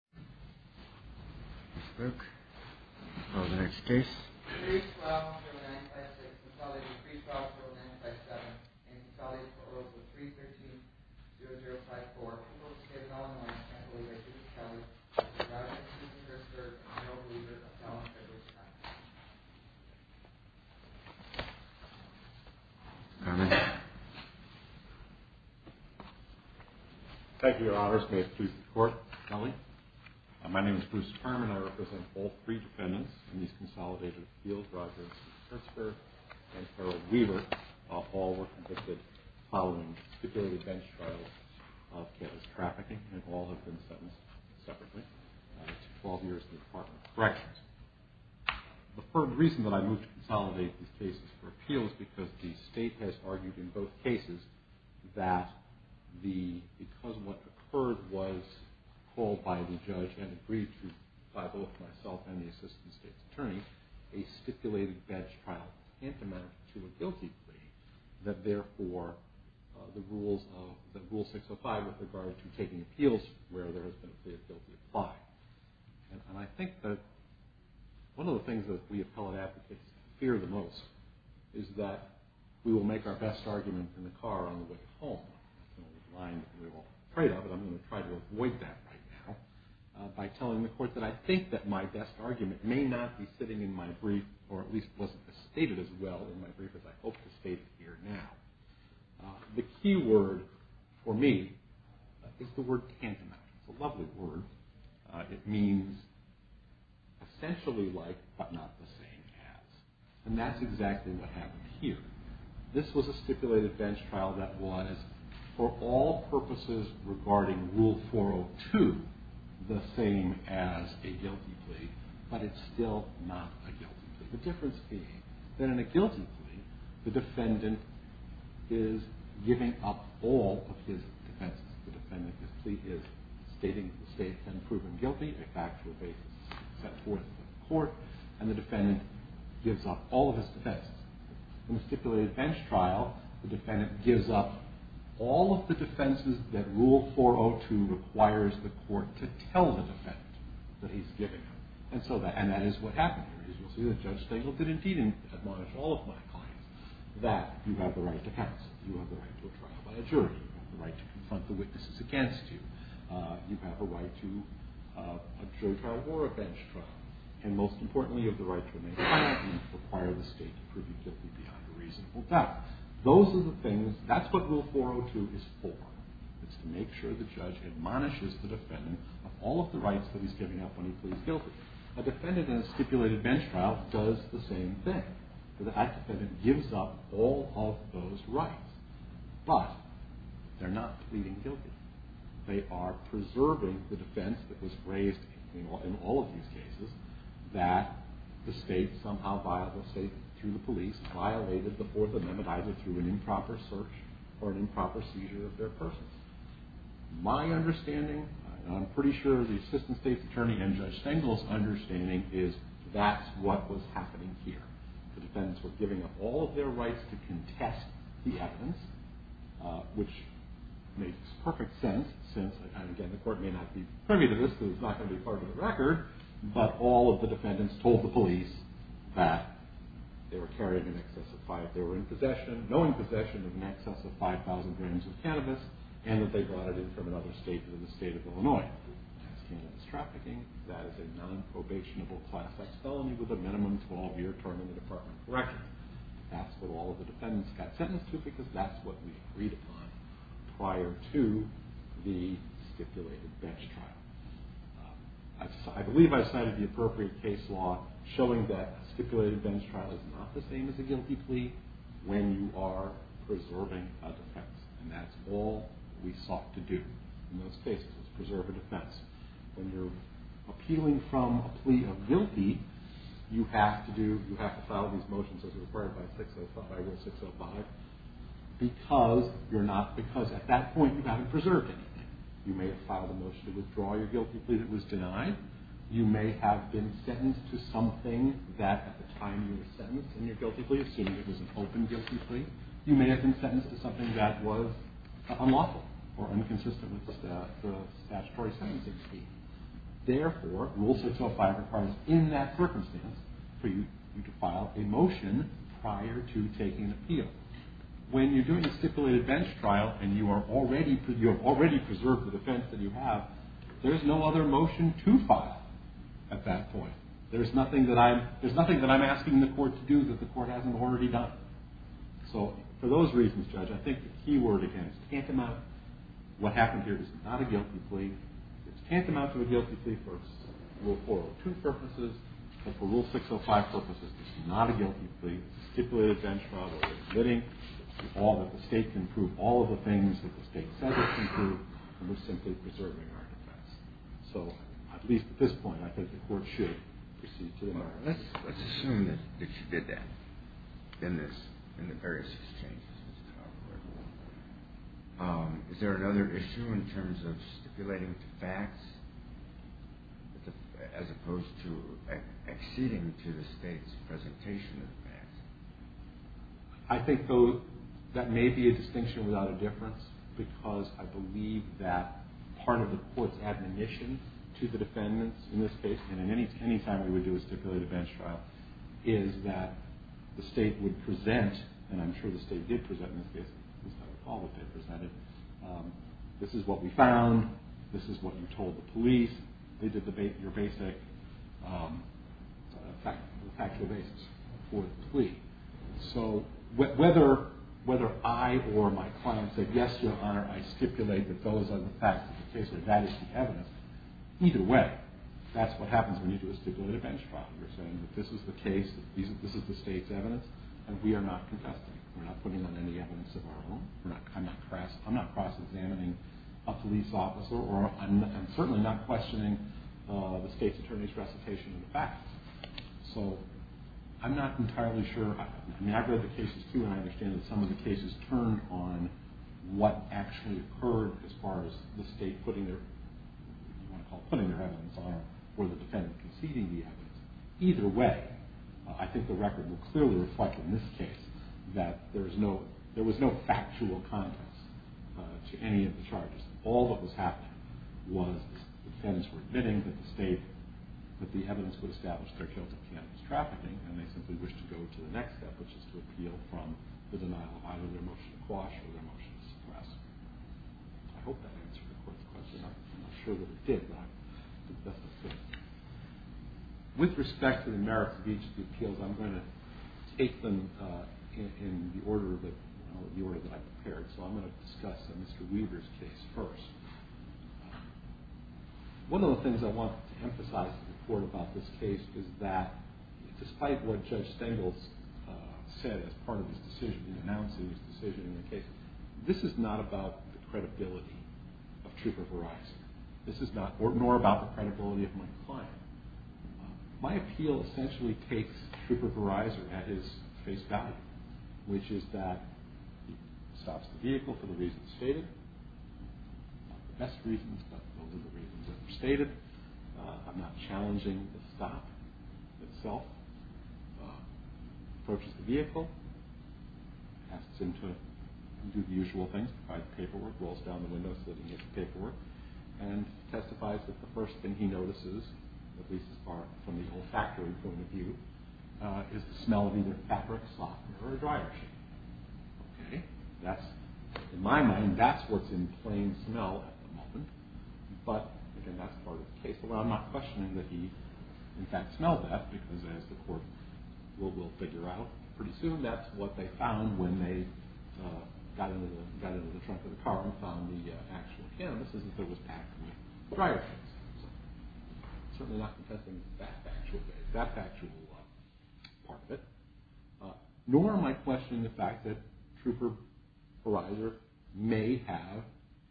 312.956, consolidated 312.957, and consolidated for Oral Code 313.0054, in the name of the Father, the Son, and the Holy Spirit, amen. God bless you, Mr. Hertzberg, and you're a believer of the law and the truth, amen. Thank you, Your Honors. May it please the Court, tell me. My name is Bruce Furman. I represent all three defendants in these consolidated appeals. Rogers, Hertzberg, and Harold Weaver all were convicted following security bench trials of cannabis trafficking, and all have been sentenced separately to 12 years in the Department of Corrections. The reason that I moved to consolidate these cases for appeal is because the State has argued in both cases that because what occurred was called by the judge and agreed to by both myself and the Assistant State's Attorney, a stipulated bench trial ante-matter to a guilty plea, that therefore the Rule 605 with regard to taking appeals where there has been a guilty plea applied. And I think that one of the things that we appellate advocates fear the most is that we will make our best argument in the car on the way home. That's a line that we're all afraid of, and I'm going to try to avoid that right now by telling the Court that I think that my best argument may not be sitting in my brief, or at least wasn't stated as well in my brief as I hope to state it here now. The key word for me is the word ante-matter. It's a lovely word. It means essentially like but not the same as. And that's exactly what happened here. This was a stipulated bench trial that was for all purposes regarding Rule 402 the same as a guilty plea, but it's still not a guilty plea. The difference being that in a guilty plea, the defendant is giving up all of his defenses. The defendant's plea is stating the state has been proven guilty, a factual basis set forth by the Court, and the defendant gives up all of his defenses. In a stipulated bench trial, the defendant gives up all of the defenses that Rule 402 requires the Court to tell the defendant that he's giving them. And that is what happened here. As you'll see, Judge Stengel did indeed admonish all of my clients that you have the right to counsel, you have the right to a trial by a jury, you have the right to confront the witnesses against you, you have a right to a jury trial or a bench trial, and most importantly, you have the right to remain silent and require the state to prove you guilty beyond a reasonable doubt. Those are the things, that's what Rule 402 is for. It's to make sure the judge admonishes the defendant of all of the rights that he's giving up when he pleads guilty. A defendant in a stipulated bench trial does the same thing. The act defendant gives up all of those rights, but they're not pleading guilty. They are preserving the defense that was raised in all of these cases, that the state somehow violated, through the police, violated the Fourth Amendment either through an improper search or an improper seizure of their persons. My understanding, and I'm pretty sure the Assistant State's Attorney and Judge Stengel's understanding, is that's what was happening here. The defendants were giving up all of their rights to contest the evidence, which makes perfect sense, since, again, the court may not be privy to this because it's not going to be part of the record, but all of the defendants told the police that they were carrying in excess of five, they were in possession, no in possession of in excess of 5,000 grams of cannabis, and that they brought it in from another state, the state of Illinois. As far as cannabis trafficking, that is a non-probationable class X felony with a minimum 12-year term in the Department of Corrections. That's what all of the defendants got sentenced to because that's what we agreed upon prior to the stipulated bench trial. I believe I cited the appropriate case law showing that a stipulated bench trial is not the same as a guilty plea when you are preserving a defense, and that's all we sought to do in those cases, was preserve a defense. When you're appealing from a plea of guilty, you have to file these motions as required by Rule 605 because at that point you haven't preserved anything. You may have filed a motion to withdraw your guilty plea that was denied. You may have been sentenced to something that at the time you were sentenced in your guilty plea, assuming it was an open guilty plea, you may have been sentenced to something that was unlawful or inconsistent with the statutory sentencing scheme. Therefore, Rule 605 requires in that circumstance for you to file a motion prior to taking an appeal. When you're doing a stipulated bench trial and you have already preserved the defense that you have, there is no other motion to file at that point. There's nothing that I'm asking the court to do that the court hasn't already done. So for those reasons, Judge, I think the key word again is tantamount. What happened here is not a guilty plea. It's tantamount to a guilty plea for Rule 402 purposes and for Rule 605 purposes. It's not a guilty plea. It's a stipulated bench trial where we're admitting that the state can prove all of the things that the state says it can prove, and we're simply preserving our defense. So at least at this point, I think the court should proceed to that. Let's assume that you did that in the various exchanges. Is there another issue in terms of stipulating the facts as opposed to acceding to the state's presentation of the facts? I think that may be a distinction without a difference because I believe that part of the court's admonition to the defendants in this case, and any time we would do a stipulated bench trial, is that the state would present, and I'm sure the state did present in this case. At least I recall what they presented. This is what we found. This is what you told the police. They did your basic factual basis for the plea. So whether I or my client said, yes, Your Honor, I stipulate that those are the facts of the case or that is the evidence, either way, that's what happens when you do a stipulated bench trial. You're saying that this is the case, this is the state's evidence, and we are not confessing. We're not putting on any evidence of our own. I'm not cross-examining a police officer, or I'm certainly not questioning the state's attorney's recitation of the facts. So I'm not entirely sure. I mean, I've read the cases, too, and I understand that some of the cases turn on what actually occurred as far as the state putting their, you want to call it, putting their evidence on, or the defendant conceding the evidence. Either way, I think the record will clearly reflect in this case that there was no factual context to any of the charges. All that was happening was the defendants were admitting that the evidence would establish their guilt of cannabis trafficking, and they simply wished to go to the next step, which is to appeal from the denial of either their motion to quash or their motion to suppress. I'm not sure that it did, but that's what I said. With respect to the merits of each of the appeals, I'm going to take them in the order that I prepared. So I'm going to discuss Mr. Weaver's case first. One of the things I want to emphasize in the report about this case is that despite what Judge Stengel said as part of his decision, in the case, this is not about the credibility of Trooper Verizon. This is not, nor about the credibility of my client. My appeal essentially takes Trooper Verizon at his face value, which is that he stops the vehicle for the reasons stated. Not the best reasons, but those are the reasons that were stated. I'm not challenging the stop itself. Approaches the vehicle, asks him to do the usual things, provide the paperwork, rolls down the window, slid in his paperwork, and testifies that the first thing he notices, at least as far from the olfactory point of view, is the smell of either fabric, softener, or a dryer sheet. Okay, that's, in my mind, that's what's in plain smell at the moment. But, again, that's part of the case. I'm not questioning that he, in fact, smelled that, because as the court will figure out pretty soon, that's what they found when they got into the trunk of the car and found the actual canvas, is that there was actually dryer sheets. So I'm certainly not contesting that actual part of it. Nor am I questioning the fact that Trooper Horizer may have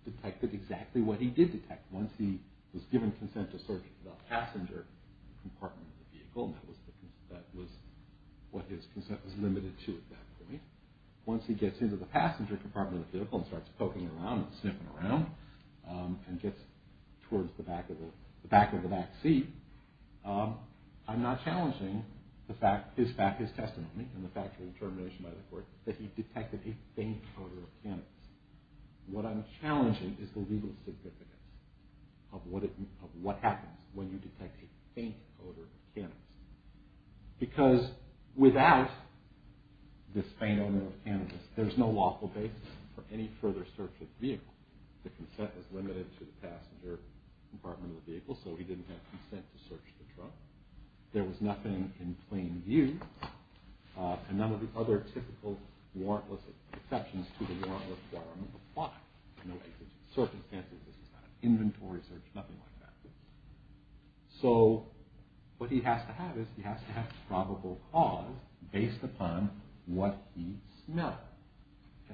detected exactly what he did detect. Once he was given consent to search the passenger compartment of the vehicle, and that was what his consent was limited to, exactly, once he gets into the passenger compartment of the vehicle and starts poking around and sniffing around and gets towards the back of the back seat, I'm not challenging his testimony. And the factual determination by the court that he detected a faint odor of canvas. What I'm challenging is the legal significance of what happens when you detect a faint odor of canvas. Because without this faint odor of canvas, there's no lawful basis for any further search of the vehicle. The consent was limited to the passenger compartment of the vehicle, so he didn't have consent to search the trunk. There was nothing in plain view, and none of the other typical warrantless exceptions to the warrantless requirement apply. No exigent circumstances, this is not an inventory search, nothing like that. So what he has to have is he has to have probable cause based upon what he smelled.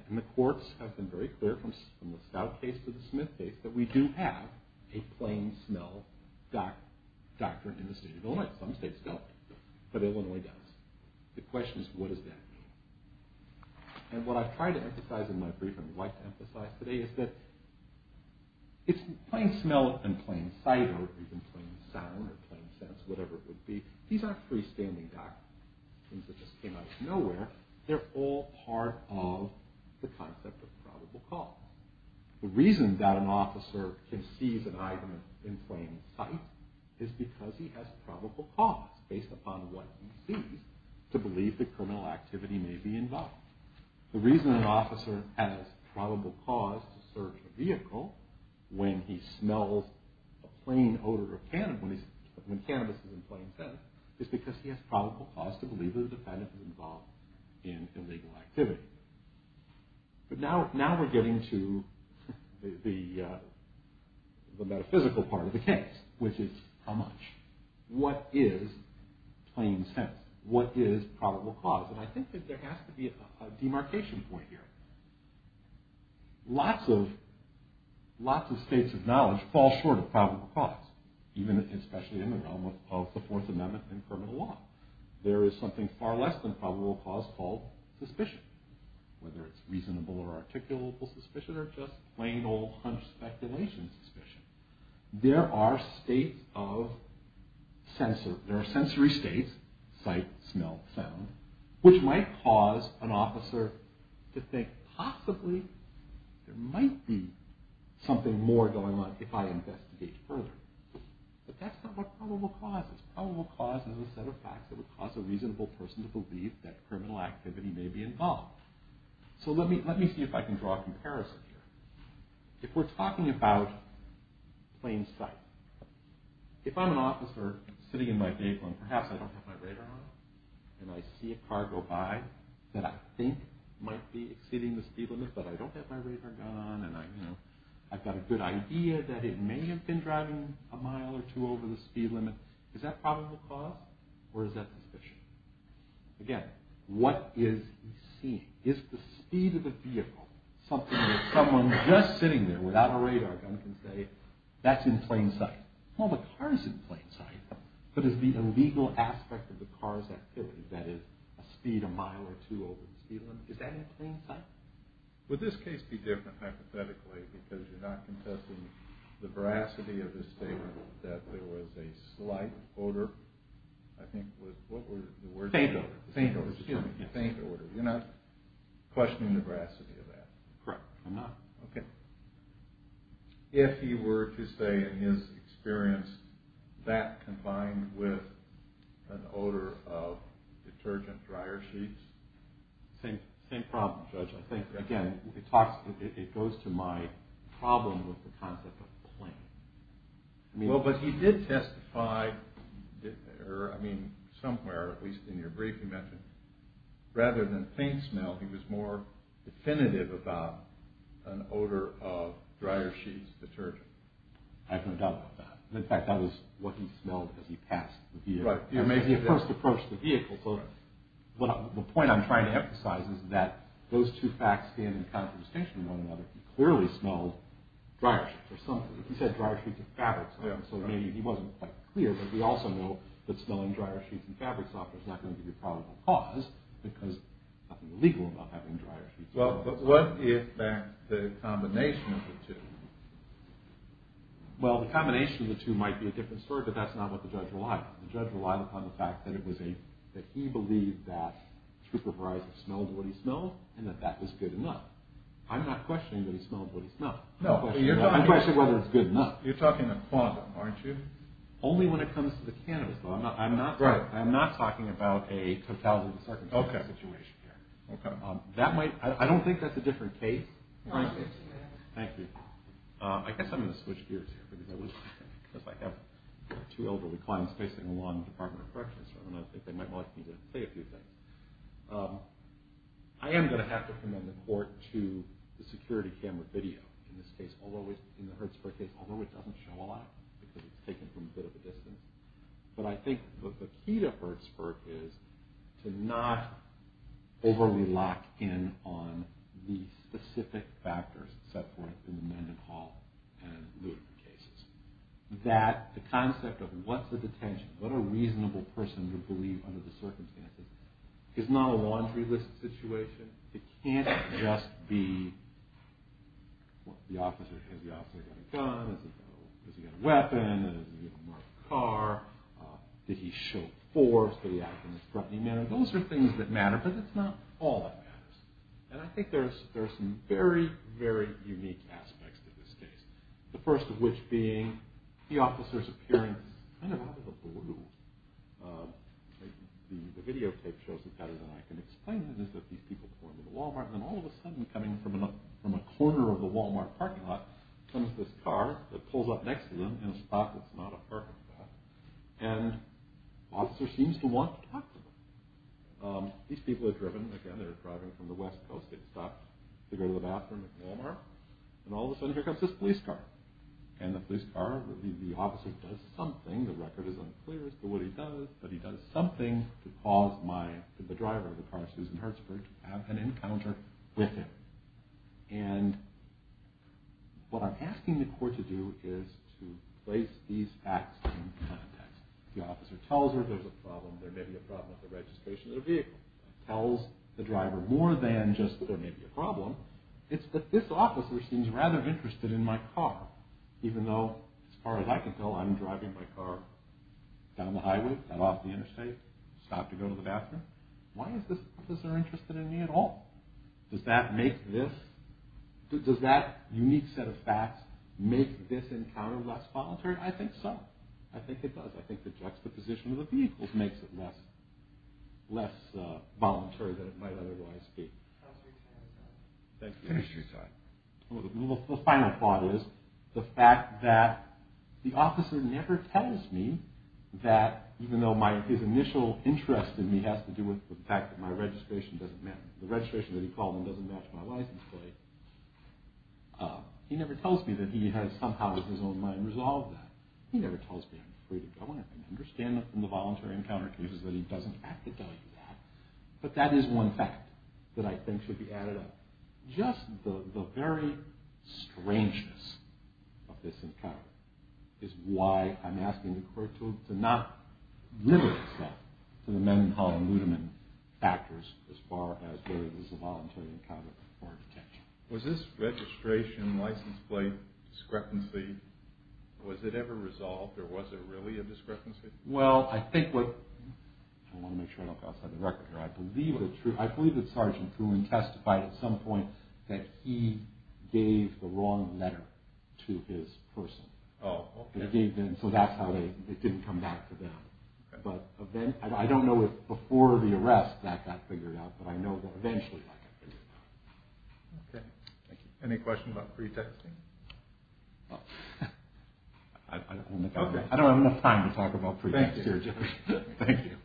And the courts have been very clear from the Stout case to the Smith case that we do have a plain smell doctrine in the state of Illinois. Some states don't, but Illinois does. The question is, what does that mean? And what I've tried to emphasize in my brief and what I'd like to emphasize today is that it's plain smell and plain sight or even plain sound or plain sense, whatever it would be, these aren't freestanding doctrines that just came out of nowhere. They're all part of the concept of probable cause. The reason that an officer can seize an item in plain sight is because he has probable cause based upon what he sees to believe that criminal activity may be involved. The reason an officer has probable cause to search a vehicle when he smells a plain odor of cannabis, when cannabis is in plain sight, is because he has probable cause to believe that a defendant is involved in illegal activity. But now we're getting to the metaphysical part of the case, which is how much? What is plain sense? What is probable cause? And I think that there has to be a demarcation point here. Lots of states of knowledge fall short of probable cause, especially in the realm of the Fourth Amendment and criminal law. There is something far less than probable cause called suspicion, whether it's reasonable or articulable suspicion or just plain old hunched speculation suspicion. There are states of sensory states, sight, smell, sound, which might cause an officer to think, possibly there might be something more going on if I investigate further. But that's not what probable cause is. Probable cause is a set of facts that would cause a reasonable person to believe that criminal activity may be involved. So let me see if I can draw a comparison here. If we're talking about plain sight, if I'm an officer sitting in my vehicle and perhaps I don't have my radar on, and I see a car go by that I think might be exceeding the speed limit, but I don't have my radar gun on, and I've got a good idea that it may have been driving a mile or two over the speed limit, is that probable cause or is that suspicion? Again, what is he seeing? Is the speed of the vehicle something that someone just sitting there without a radar gun can say, that's in plain sight? Well, the car is in plain sight, but is the illegal aspect of the car's activity, that is, a speed a mile or two over the speed limit, is that in plain sight? Would this case be different hypothetically because you're not contesting the veracity of his statement that there was a slight odor, I think, what were the words? Faint odor. Faint odor. You're not questioning the veracity of that? Correct, I'm not. Okay. If he were to say in his experience that combined with an odor of detergent dryer sheets? Same problem, Judge. I think, again, it goes to my problem with the concept of plain. Well, but he did testify, I mean, somewhere, at least in your brief you mentioned, rather than faint smell, he was more definitive about an odor of dryer sheets, detergent. I have no doubt about that. In fact, that was what he smelled as he passed the vehicle. Right. The point I'm trying to emphasize is that those two facts stand in contrast to one another. He clearly smelled dryer sheets or something. He said dryer sheets of fabric, so maybe he wasn't quite clear, but we also know that smelling dryer sheets and fabric softener is not going to be a probable cause because there's nothing illegal about having dryer sheets. Well, but what if that's the combination of the two? Well, the combination of the two might be a different story, but that's not what the judge relied on. The judge relied upon the fact that he believed that Schubert Verizon smelled what he smelled and that that was good enough. I'm not questioning that he smelled what he smelled. No. I'm questioning whether it's good enough. You're talking the quantum, aren't you? Only when it comes to the cannabis, though. I'm not talking about a totality of the circumstances situation here. Okay. I don't think that's a different case. Thank you. I guess I'm going to switch gears here because I have two elderly clients facing along the Department of Corrections, and I think they might like me to say a few things. I am going to have to commend the court to the security camera video in this case, in the Hertzberg case, although it doesn't show a lot because it's taken from a bit of a distance. But I think the key to Hertzberg is to not overly lock in on the specific factors set forth in the Mendenhall and Lutheran cases. That the concept of what's a detention, what a reasonable person would believe under the circumstances, is not a laundry list situation. It can't just be the officer, has the officer got a gun, has he got a weapon, has he got a marked car, did he show force, did he act in a disrupting manner? Those are things that matter, but it's not all that matters. And I think there are some very, very unique aspects to this case. The first of which being the officer's appearance, kind of out of the blue. The videotape shows it better than I can explain it, is that these people come into the Walmart and then all of a sudden coming from a corner of the Walmart parking lot, comes this car that pulls up next to them in a spot that's not a parking lot, and the officer seems to want to talk to them. These people are driven, again, they're driving from the west coast, they've stopped to go to the bathroom at Walmart, and all of a sudden here comes this police car. And the police car, the officer does something, the record is unclear as to what he does, but he does something to cause the driver of the car, Susan Hertzberg, to have an encounter with him. And what I'm asking the court to do is to place these acts in context. The officer tells her there's a problem, there may be a problem with the registration of the vehicle. Tells the driver more than just there may be a problem, it's that this officer seems rather interested in my car, even though as far as I can tell I'm driving my car down the highway, off the interstate, stopped to go to the bathroom. Why is this officer interested in me at all? Does that make this, does that unique set of facts make this encounter less voluntary? I think so. I think it does. I think the juxtaposition of the vehicles makes it less voluntary than it might otherwise be. Thank you. The final thought is the fact that the officer never tells me that, even though his initial interest in me has to do with the fact that my registration doesn't matter, the registration that he called in doesn't match my license plate, he never tells me that he has somehow in his own mind resolved that. He never tells me I'm free to go, and I can understand that from the voluntary encounter cases that he doesn't have to tell you that, but that is one fact that I think should be added up. Just the very strangeness of this encounter is why I'm asking the court to not limit itself to the Mendenhall and Ludeman factors as far as whether this is a voluntary encounter or a detention. Was this registration license plate discrepancy, was it ever resolved or was it really a discrepancy? Well, I think what, I want to make sure I don't go outside the record here, I believe that Sergeant Kuhling testified at some point that he gave the wrong letter to his person. So that's how it didn't come back to them. But I don't know if before the arrest that got figured out, but I know that eventually that got figured out. Okay, thank you. Any questions about pre-texting? I don't have enough time to talk about pre-texting. Thank you.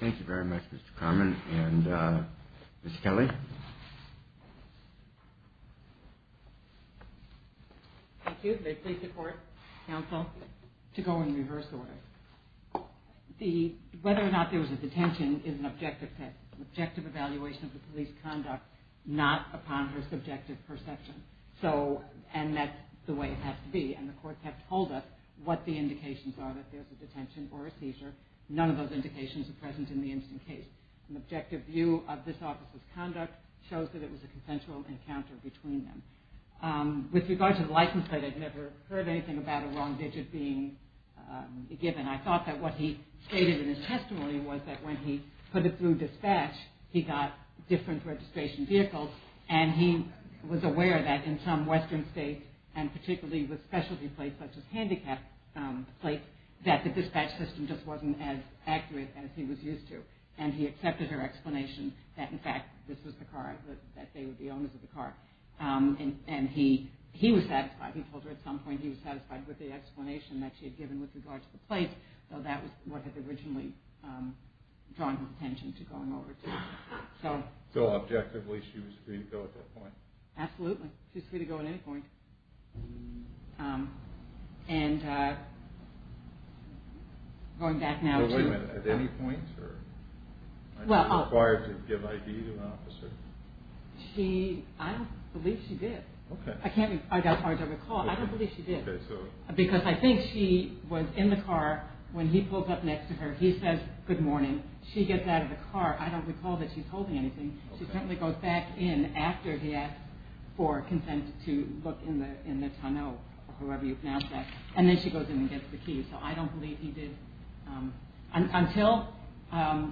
Thank you very much, Mr. Carman. And Ms. Kelly? Thank you. Thank you. May it please the court, counsel, to go in reverse order. The, whether or not there was a detention is an objective test, an objective evaluation of the police conduct not upon her subjective perception. So, and that's the way it has to be. And the courts have told us what the indications are that there's a detention or a seizure. None of those indications are present in the instant case. An objective view of this office's conduct shows that it was a consensual encounter between them. With regard to the license plate, I'd never heard anything about a wrong digit being given. I thought that what he stated in his testimony was that when he put it through dispatch, he got different registration vehicles, and he was aware that in some western states, and particularly with specialty plates such as handicap plates, that the dispatch system just wasn't as accurate as he was used to. And he accepted her explanation that, in fact, this was the car, that they were the owners of the car. And he was satisfied. He told her at some point he was satisfied with the explanation that she had given with regard to the plates, though that was what had originally drawn his attention to going over it. So, objectively, she was free to go at that point? Absolutely. She was free to go at any point. And going back now to Wait a minute. At any point? Was she required to give ID to an officer? I don't believe she did. As far as I recall, I don't believe she did. Because I think she was in the car when he pulls up next to her. He says, good morning. She gets out of the car. I don't recall that she's holding anything. She simply goes back in after he asks for consent to look in the tunnel, or whoever you pronounce that. And then she goes in and gets the key. So I don't believe he did. Until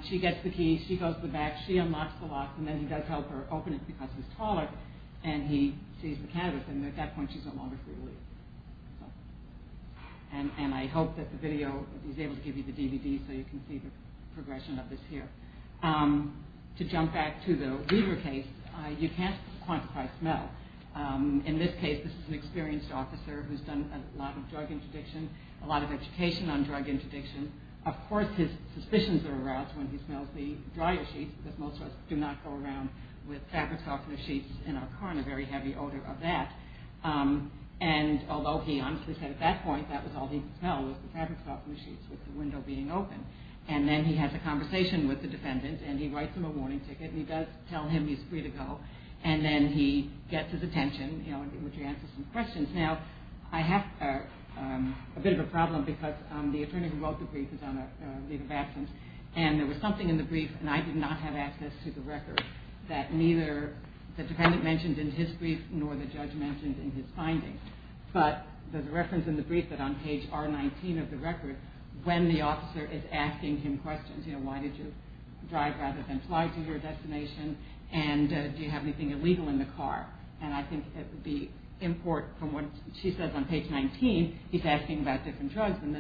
she gets the key, she goes to the back, she unlocks the locks, and then he does help her open it because he's taller, and he sees the canvas, and at that point she's no longer free to leave. And I hope that the video is able to give you the DVD so you can see the progression of this here. To jump back to the Weaver case, you can't quantify smell. In this case, this is an experienced officer who's done a lot of drug interdiction, a lot of education on drug interdiction. Of course, his suspicions are aroused when he smells the dryer sheets, because most of us do not go around with fabric softener sheets in our car, and a very heavy odor of that. And although he honestly said at that point that was all he could smell was the fabric softener sheets with the window being open. And then he has a conversation with the defendant, and he writes him a warning ticket, and he does tell him he's free to go. And then he gets his attention, which answers some questions. Now, I have a bit of a problem because the attorney who wrote the brief is on a leave of absence, and there was something in the brief, and I did not have access to the record, that neither the defendant mentioned in his brief nor the judge mentioned in his findings. But there's a reference in the brief that on page R19 of the record, when the officer is asking him questions, you know, why did you drive rather than fly to your destination, and do you have anything illegal in the car? And I think the import from what she says on page 19, he's asking about different drugs, and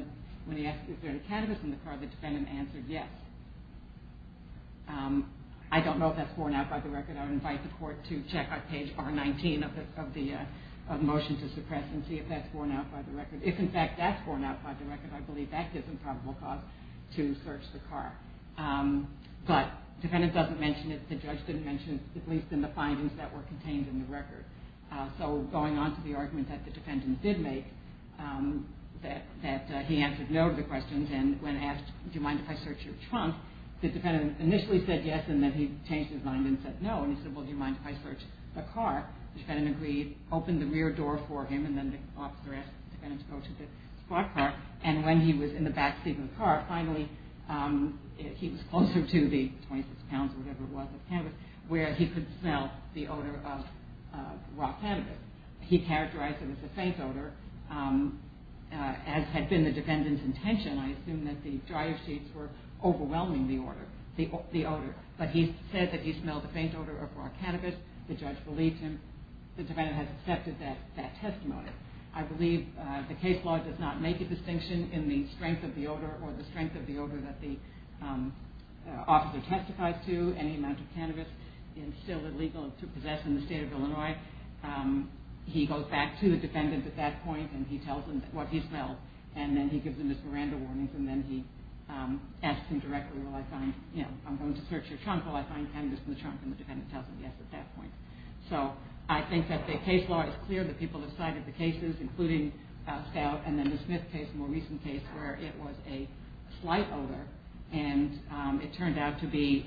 when he asked if there was cannabis in the car, the defendant answered yes. I don't know if that's borne out by the record. I would invite the court to check on page R19 of the motion to suppress and see if that's borne out by the record. If, in fact, that's borne out by the record, I believe that is a probable cause to search the car. But the defendant doesn't mention it, the judge didn't mention it, at least in the findings that were contained in the record. So going on to the argument that the defendant did make, that he answered no to the questions, and when asked, do you mind if I search your trunk, the defendant initially said yes, and then he changed his mind and said no, and he said, well, do you mind if I search the car? The defendant agreed, opened the rear door for him, and then the officer asked the defendant to go to the spot car, and when he was in the backseat of the car, finally he was closer to the 26 pounds or whatever it was of cannabis, where he could smell the odor of raw cannabis. He characterized it as a faint odor, as had been the defendant's intention. I assume that the dryer sheets were overwhelming the odor. But he said that he smelled the faint odor of raw cannabis. The judge believed him. The defendant has accepted that testimony. I believe the case law does not make a distinction in the strength of the odor or the strength of the odor that the officer testifies to. Any amount of cannabis is still illegal to possess in the state of Illinois. He goes back to the defendant at that point, and he tells him what he smelled, and then he gives him his Miranda warnings, and then he asks him directly, will I find, you know, I'm going to search your trunk, will I find cannabis in the trunk? And the defendant tells him yes at that point. So I think that the case law is clear. The people have cited the cases, including Stout and then the Smith case, a more recent case where it was a slight odor, and it turned out to be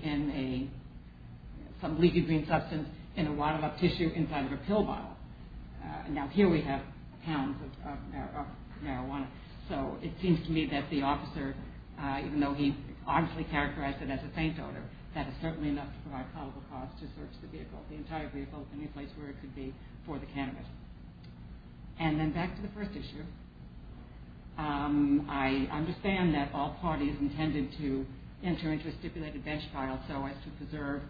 some leaky green substance in a wound up tissue inside of a pill bottle. Now here we have pounds of marijuana. So it seems to me that the officer, even though he obviously characterized it as a faint odor, that is certainly enough to provide probable cause to search the vehicle. The entire vehicle, any place where it could be for the cannabis. And then back to the first issue. I understand that all parties intended to enter into a stipulated bench file so as to preserve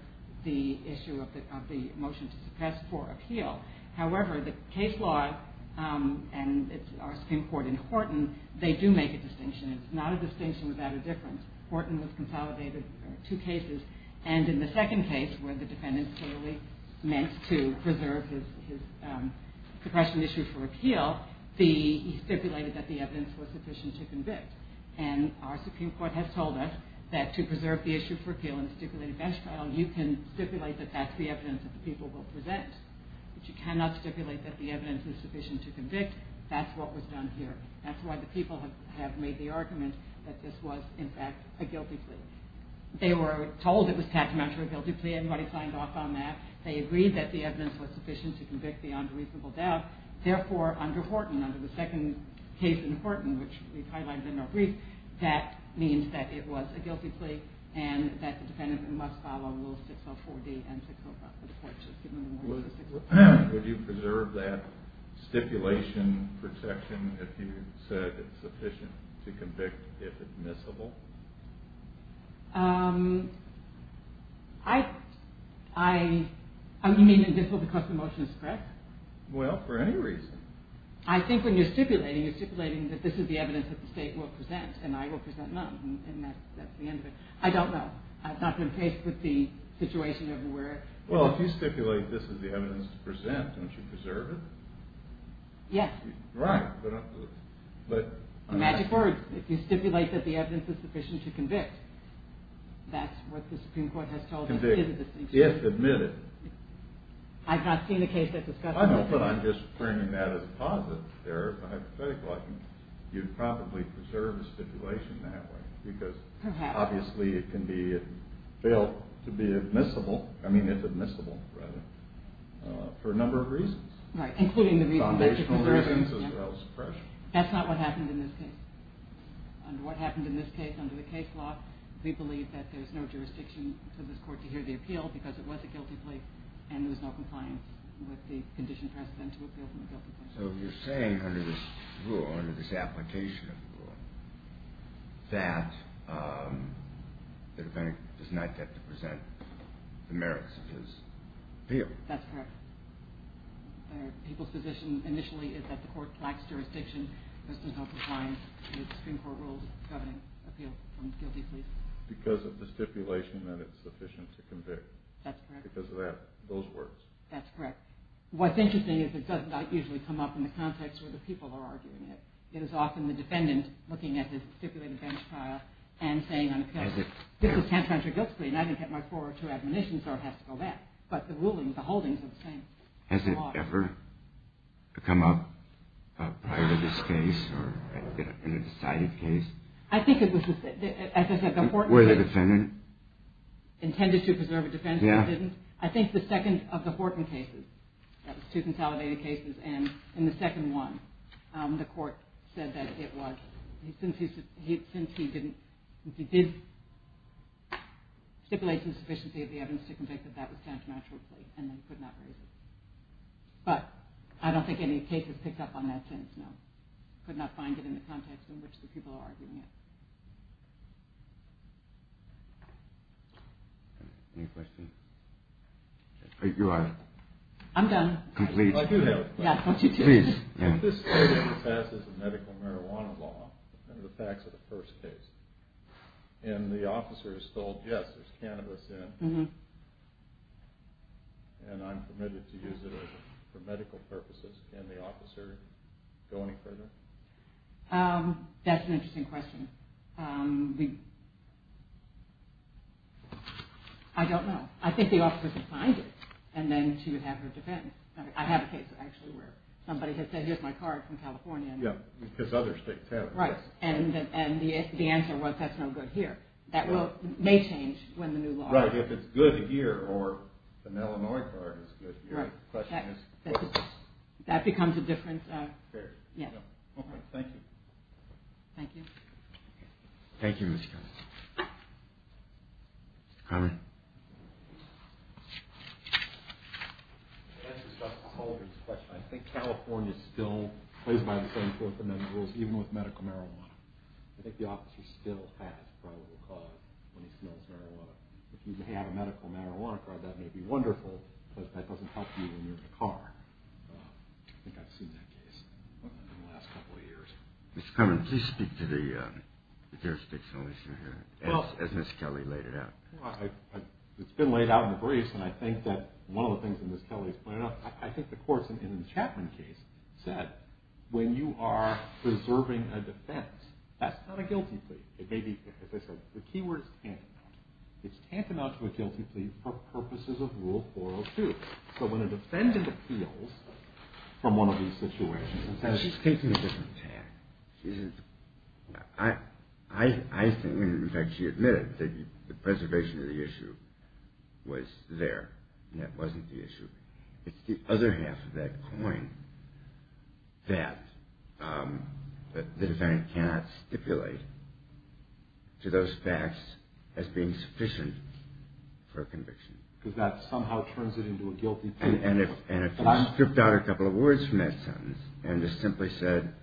the issue of the motion to suppress for appeal. However, the case law and our Supreme Court in Horton, they do make a distinction. It's not a distinction without a difference. Horton has consolidated two cases, and in the second case where the defendant clearly meant to preserve his suppression issue for appeal, he stipulated that the evidence was sufficient to convict. And our Supreme Court has told us that to preserve the issue for appeal in a stipulated bench file, you can stipulate that that's the evidence that the people will present. But you cannot stipulate that the evidence is sufficient to convict. That's what was done here. That's why the people have made the argument that this was, in fact, a guilty plea. They were told it was tachymetrically a guilty plea. Everybody signed off on that. They agreed that the evidence was sufficient to convict the unreasonable doubt. Therefore, under Horton, under the second case in Horton, which we've highlighted in our brief, that means that it was a guilty plea and that the defendant must follow Rule 604D and 605. Would you preserve that stipulation protection if you said it's sufficient to convict if admissible? I mean, admissible because the motion is correct? Well, for any reason. I think when you're stipulating, you're stipulating that this is the evidence that the state will present and I will present none, and that's the end of it. I don't know. I've not been faced with the situation of where— Well, if you stipulate this is the evidence to present, don't you preserve it? Yes. Right, but— It's a magic word. If you stipulate that the evidence is sufficient to convict, that's what the Supreme Court has told us is a distinction. If admitted. I've not seen a case that discusses it. I know, but I'm just bringing that as a positive there, a hypothetical. You'd probably preserve the stipulation that way because— Perhaps. Obviously, it can be felt to be admissible—I mean, it's admissible, rather, for a number of reasons. Right, including the reason that you're preserving it. Foundational reasons as well as suppression. That's not what happened in this case. Under what happened in this case, under the case law, we believe that there's no jurisdiction for this court to hear the appeal because it was a guilty plea and there was no compliance with the condition present to appeal from a guilty plea. So you're saying under this rule, under this application of the rule, that the defendant does not get to present the merits of his appeal. That's correct. People's position initially is that the court lacks jurisdiction. This does not comply with the Supreme Court rules governing appeal from a guilty plea. Because of the stipulation that it's sufficient to convict. That's correct. Because of those words. That's correct. What's interesting is it does not usually come up in the context where the people are arguing it. It is often the defendant looking at the stipulated bench trial and saying on appeal, this is tantamount to a guilty plea and I didn't get my four or two admonitions or it has to go back. But the rulings, the holdings are the same. Has it ever come up prior to this case or in a decided case? I think it was, as I said, the Horton case. Where the defendant? Intended to preserve a defense but didn't. Yeah. I think the second of the Horton cases, that was two consolidated cases, and in the second one the court said that it was, since he didn't, he did stipulate the sufficiency of the evidence to convict that that was tantamount to a plea and they could not raise it. But I don't think any cases picked up on that since, no. Could not find it in the context in which the people are arguing it. Any questions? You are? I'm done. Complete. I do have a question. Yeah, don't you too. Please. If this case passes the medical marijuana law under the facts of the first case and the officer is told, yes, there's cannabis in and I'm permitted to use it for medical purposes, can the officer go any further? That's an interesting question. I don't know. I think the officer could find it and then she would have her defense. I have a case actually where somebody had said here's my card from California. Yeah, because other states have it. Right. And the answer was that's no good here. That may change when the new law. Right. If it's good here or an Illinois card is good here. Right. That becomes a different. Fair. Yeah. Okay, thank you. Thank you. Thank you, Mr. Conner. Mr. Conner. To answer Dr. Calder's question, I think California still plays by the same rules even with medical marijuana. I think the officer still has probable cause when he smells marijuana. If you have a medical marijuana card, that may be wonderful, but that doesn't help you when you're in a car. I think I've seen that case in the last couple of years. Mr. Conner, please speak to the jurisdiction as Ms. Kelly laid it out. It's been laid out in the briefs, and I think that one of the things that Ms. Kelly has pointed out, I think the courts in the Chapman case said when you are preserving a defense, that's not a guilty plea. It may be, as I said, the key word is tantamount. It's tantamount to a guilty plea for purposes of Rule 402. So when a defendant appeals from one of these situations, that's taking a different tack. I think, and in fact she admitted that the preservation of the issue was there, and that wasn't the issue. It's the other half of that coin that the defendant cannot stipulate to those facts as being sufficient for conviction. Because that somehow turns it into a guilty plea. And if you stripped out a couple of words from that sentence and just simply said,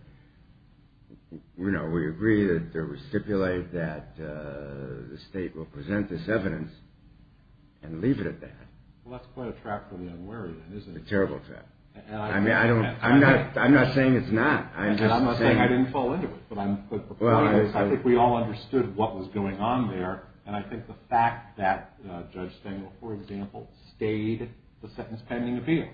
you know, we agree that there was stipulated that the state will present this evidence and leave it at that. Well, that's quite a trap for the unwary, isn't it? It's a terrible trap. I mean, I'm not saying it's not. And I'm not saying I didn't fall into it, but I think we all understood what was going on there, and I think the fact that Judge Stengel, for example, stayed the sentence pending appeal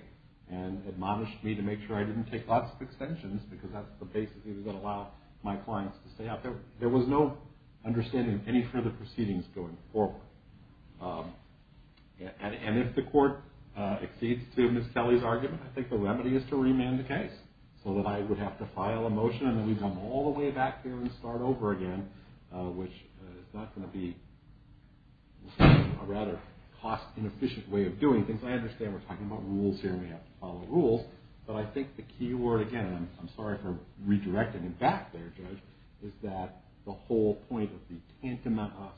and admonished me to make sure I didn't take lots of extensions, because that's the basis he was going to allow my clients to stay out there, there was no understanding of any further proceedings going forward. And if the court exceeds to Ms. Kelly's argument, I think the remedy is to remand the case so that I would have to file a motion and then we'd come all the way back here and start over again, which is not going to be a rather cost-inefficient way of doing things. I understand we're talking about rules here and we have to follow rules, but I think the key word again, and I'm sorry for redirecting him back there, Judge, is that the whole point of the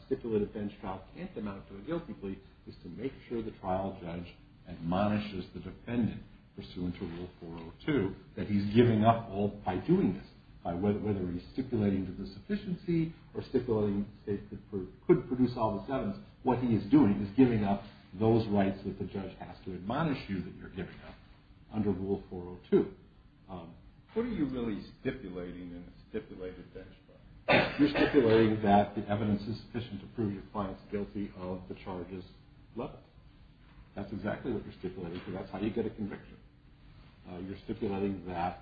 stipulated bench trial tantamount to a guilty plea is to make sure the trial judge admonishes the defendant pursuant to Rule 402, that he's giving up all, by doing this, by whether he's stipulating to the sufficiency or stipulating a state that could produce all this evidence, what he is doing is giving up those rights that the judge has to admonish you that you're giving up under Rule 402. What are you really stipulating in a stipulated bench trial? You're stipulating that the evidence is sufficient to prove your client's guilty of the charges levied. That's exactly what you're stipulating because that's how you get a conviction. You're stipulating that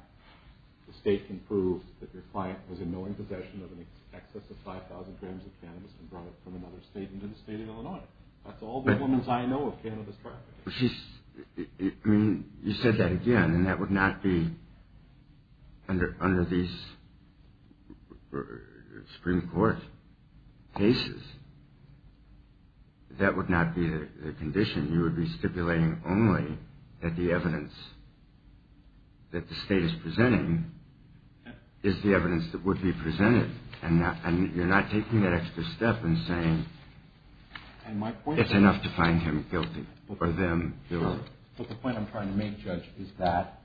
the state can prove that your client was in knowing possession of an excess of 5,000 grams of cannabis and brought it from another state into the state of Illinois. That's all the woman's eye know of cannabis trafficking. I mean, you said that again, and that would not be under these Supreme Court cases. That would not be the condition. You would be stipulating only that the evidence that the state is presenting is the evidence that would be presented. And you're not taking that extra step and saying it's enough to find him guilty or them guilty. But the point I'm trying to make, Judge, is that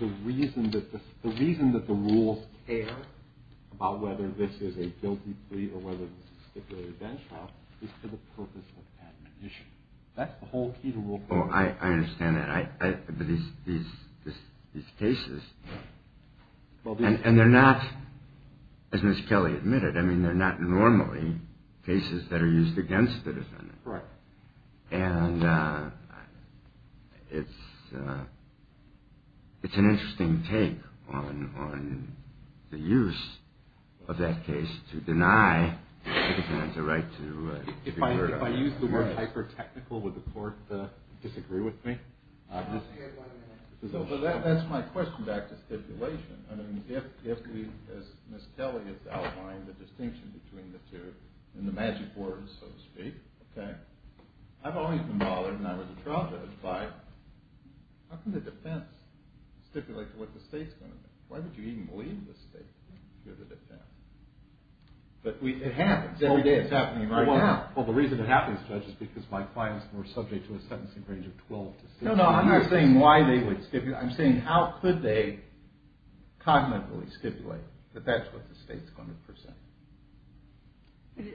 the reason that the rules care about whether this is a guilty plea or whether it's a stipulated bench trial is for the purpose of admonition. That's the whole key to rule court. Oh, I understand that. But these cases, and they're not, as Ms. Kelly admitted, I mean, they're not normally cases that are used against the defendant. Right. And it's an interesting take on the use of that case to deny the defendant the right to free word. If I use the word hyper-technical, would the court disagree with me? No, but that's my question back to stipulation. I mean, if we, as Ms. Kelly has outlined, the distinction between the two, and the magic words, so to speak, okay, I've always been bothered, and I was a trial judge, by how can the defense stipulate what the state's going to do? Why would you even believe the state to give the defense? It happens. Every day it's happening right now. Well, the reason it happens, Judge, is because my clients were subject to a sentencing range of 12 to 16 years. No, no, I'm not saying why they would stipulate. I'm saying how could they cognitively stipulate that that's what the state's going to present?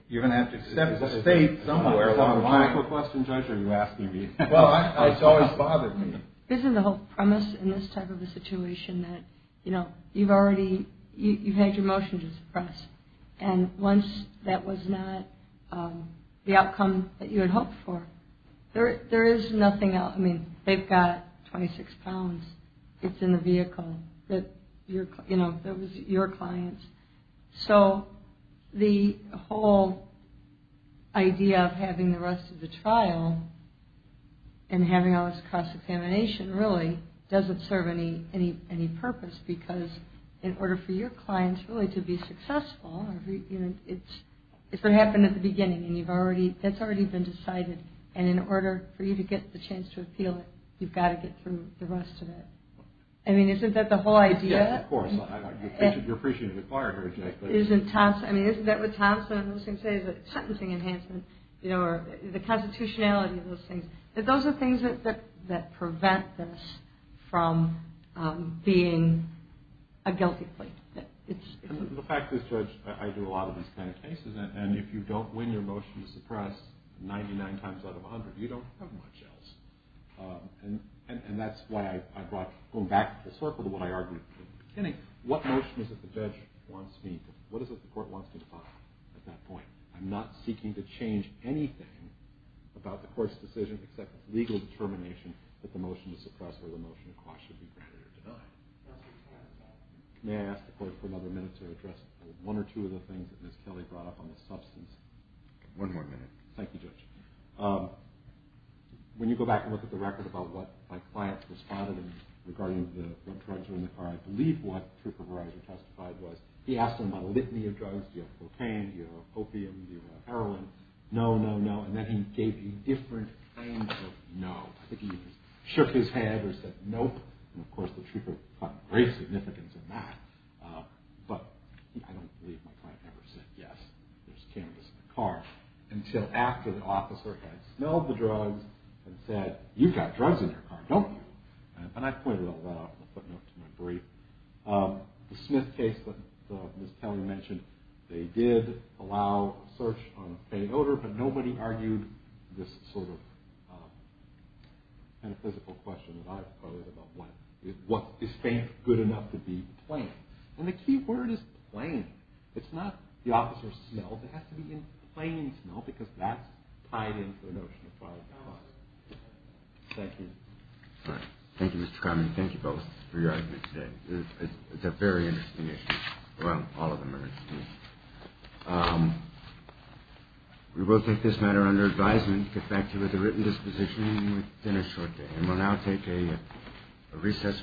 You're going to have to step the state somewhere along the line. Is that a technical question, Judge, or are you asking me? Well, it's always bothered me. Isn't the whole premise in this type of a situation that, you know, you've already, you've had your motion to suppress, and once that was not the outcome that you had hoped for, there is nothing else. I mean, they've got 26 pounds. It's in the vehicle that, you know, that was your client's. So the whole idea of having the rest of the trial and having all this cross-examination really doesn't serve any purpose because in order for your clients really to be successful, you know, it's what happened at the beginning, and you've already, that's already been decided, and in order for you to get the chance to appeal it, you've got to get through the rest of it. I mean, isn't that the whole idea? Yes, of course. You're appreciating the client very directly. I mean, isn't that what Thompson was going to say, the sentencing enhancement, you know, or the constitutionality of those things? Those are things that prevent this from being a guilty plea. The fact is, Judge, I do a lot of these kind of cases, and if you don't win your motion to suppress 99 times out of 100, you don't have much else, and that's why I brought, going back to the circle of what I argued in the beginning, what motion is it the judge wants me to, what is it the court wants me to file at that point? I'm not seeking to change anything about the court's decision except legal determination that the motion to suppress or the motion to cross should be granted or denied. May I ask the court for another minute to address one or two of the things that Ms. Kelly brought up on the substance? One more minute. Thank you, Judge. When you go back and look at the record about what my clients responded, and regarding what drugs were in the car, I believe what Trooper Verizon testified was he asked them about a litany of drugs. Do you have cocaine? Do you have opium? Do you have heroin? No, no, no. And then he gave you different kinds of no. I think he shook his head or said nope. And, of course, the trooper caught great significance in that, but I don't believe my client ever said yes, there's cannabis in the car, until after the officer had smelled the drugs and said, you've got drugs in your car, don't you? And I pointed all that out in the footnote to my brief. The Smith case that Ms. Kelly mentioned, they did allow a search on a pain odor, but nobody argued this sort of metaphysical question that I've quoted about what is faint good enough to be plain. And the key word is plain. It's not the officer's smell. It has to be in plain smell because that's tied into the notion of prior cause. Thank you. Thank you, Mr. Kramen. Thank you both for your arguments today. It's a very interesting issue. Well, all of them are interesting issues. We will take this matter under advisement to get back to you with a written disposition within a short day. And we'll now take a recess for lunch.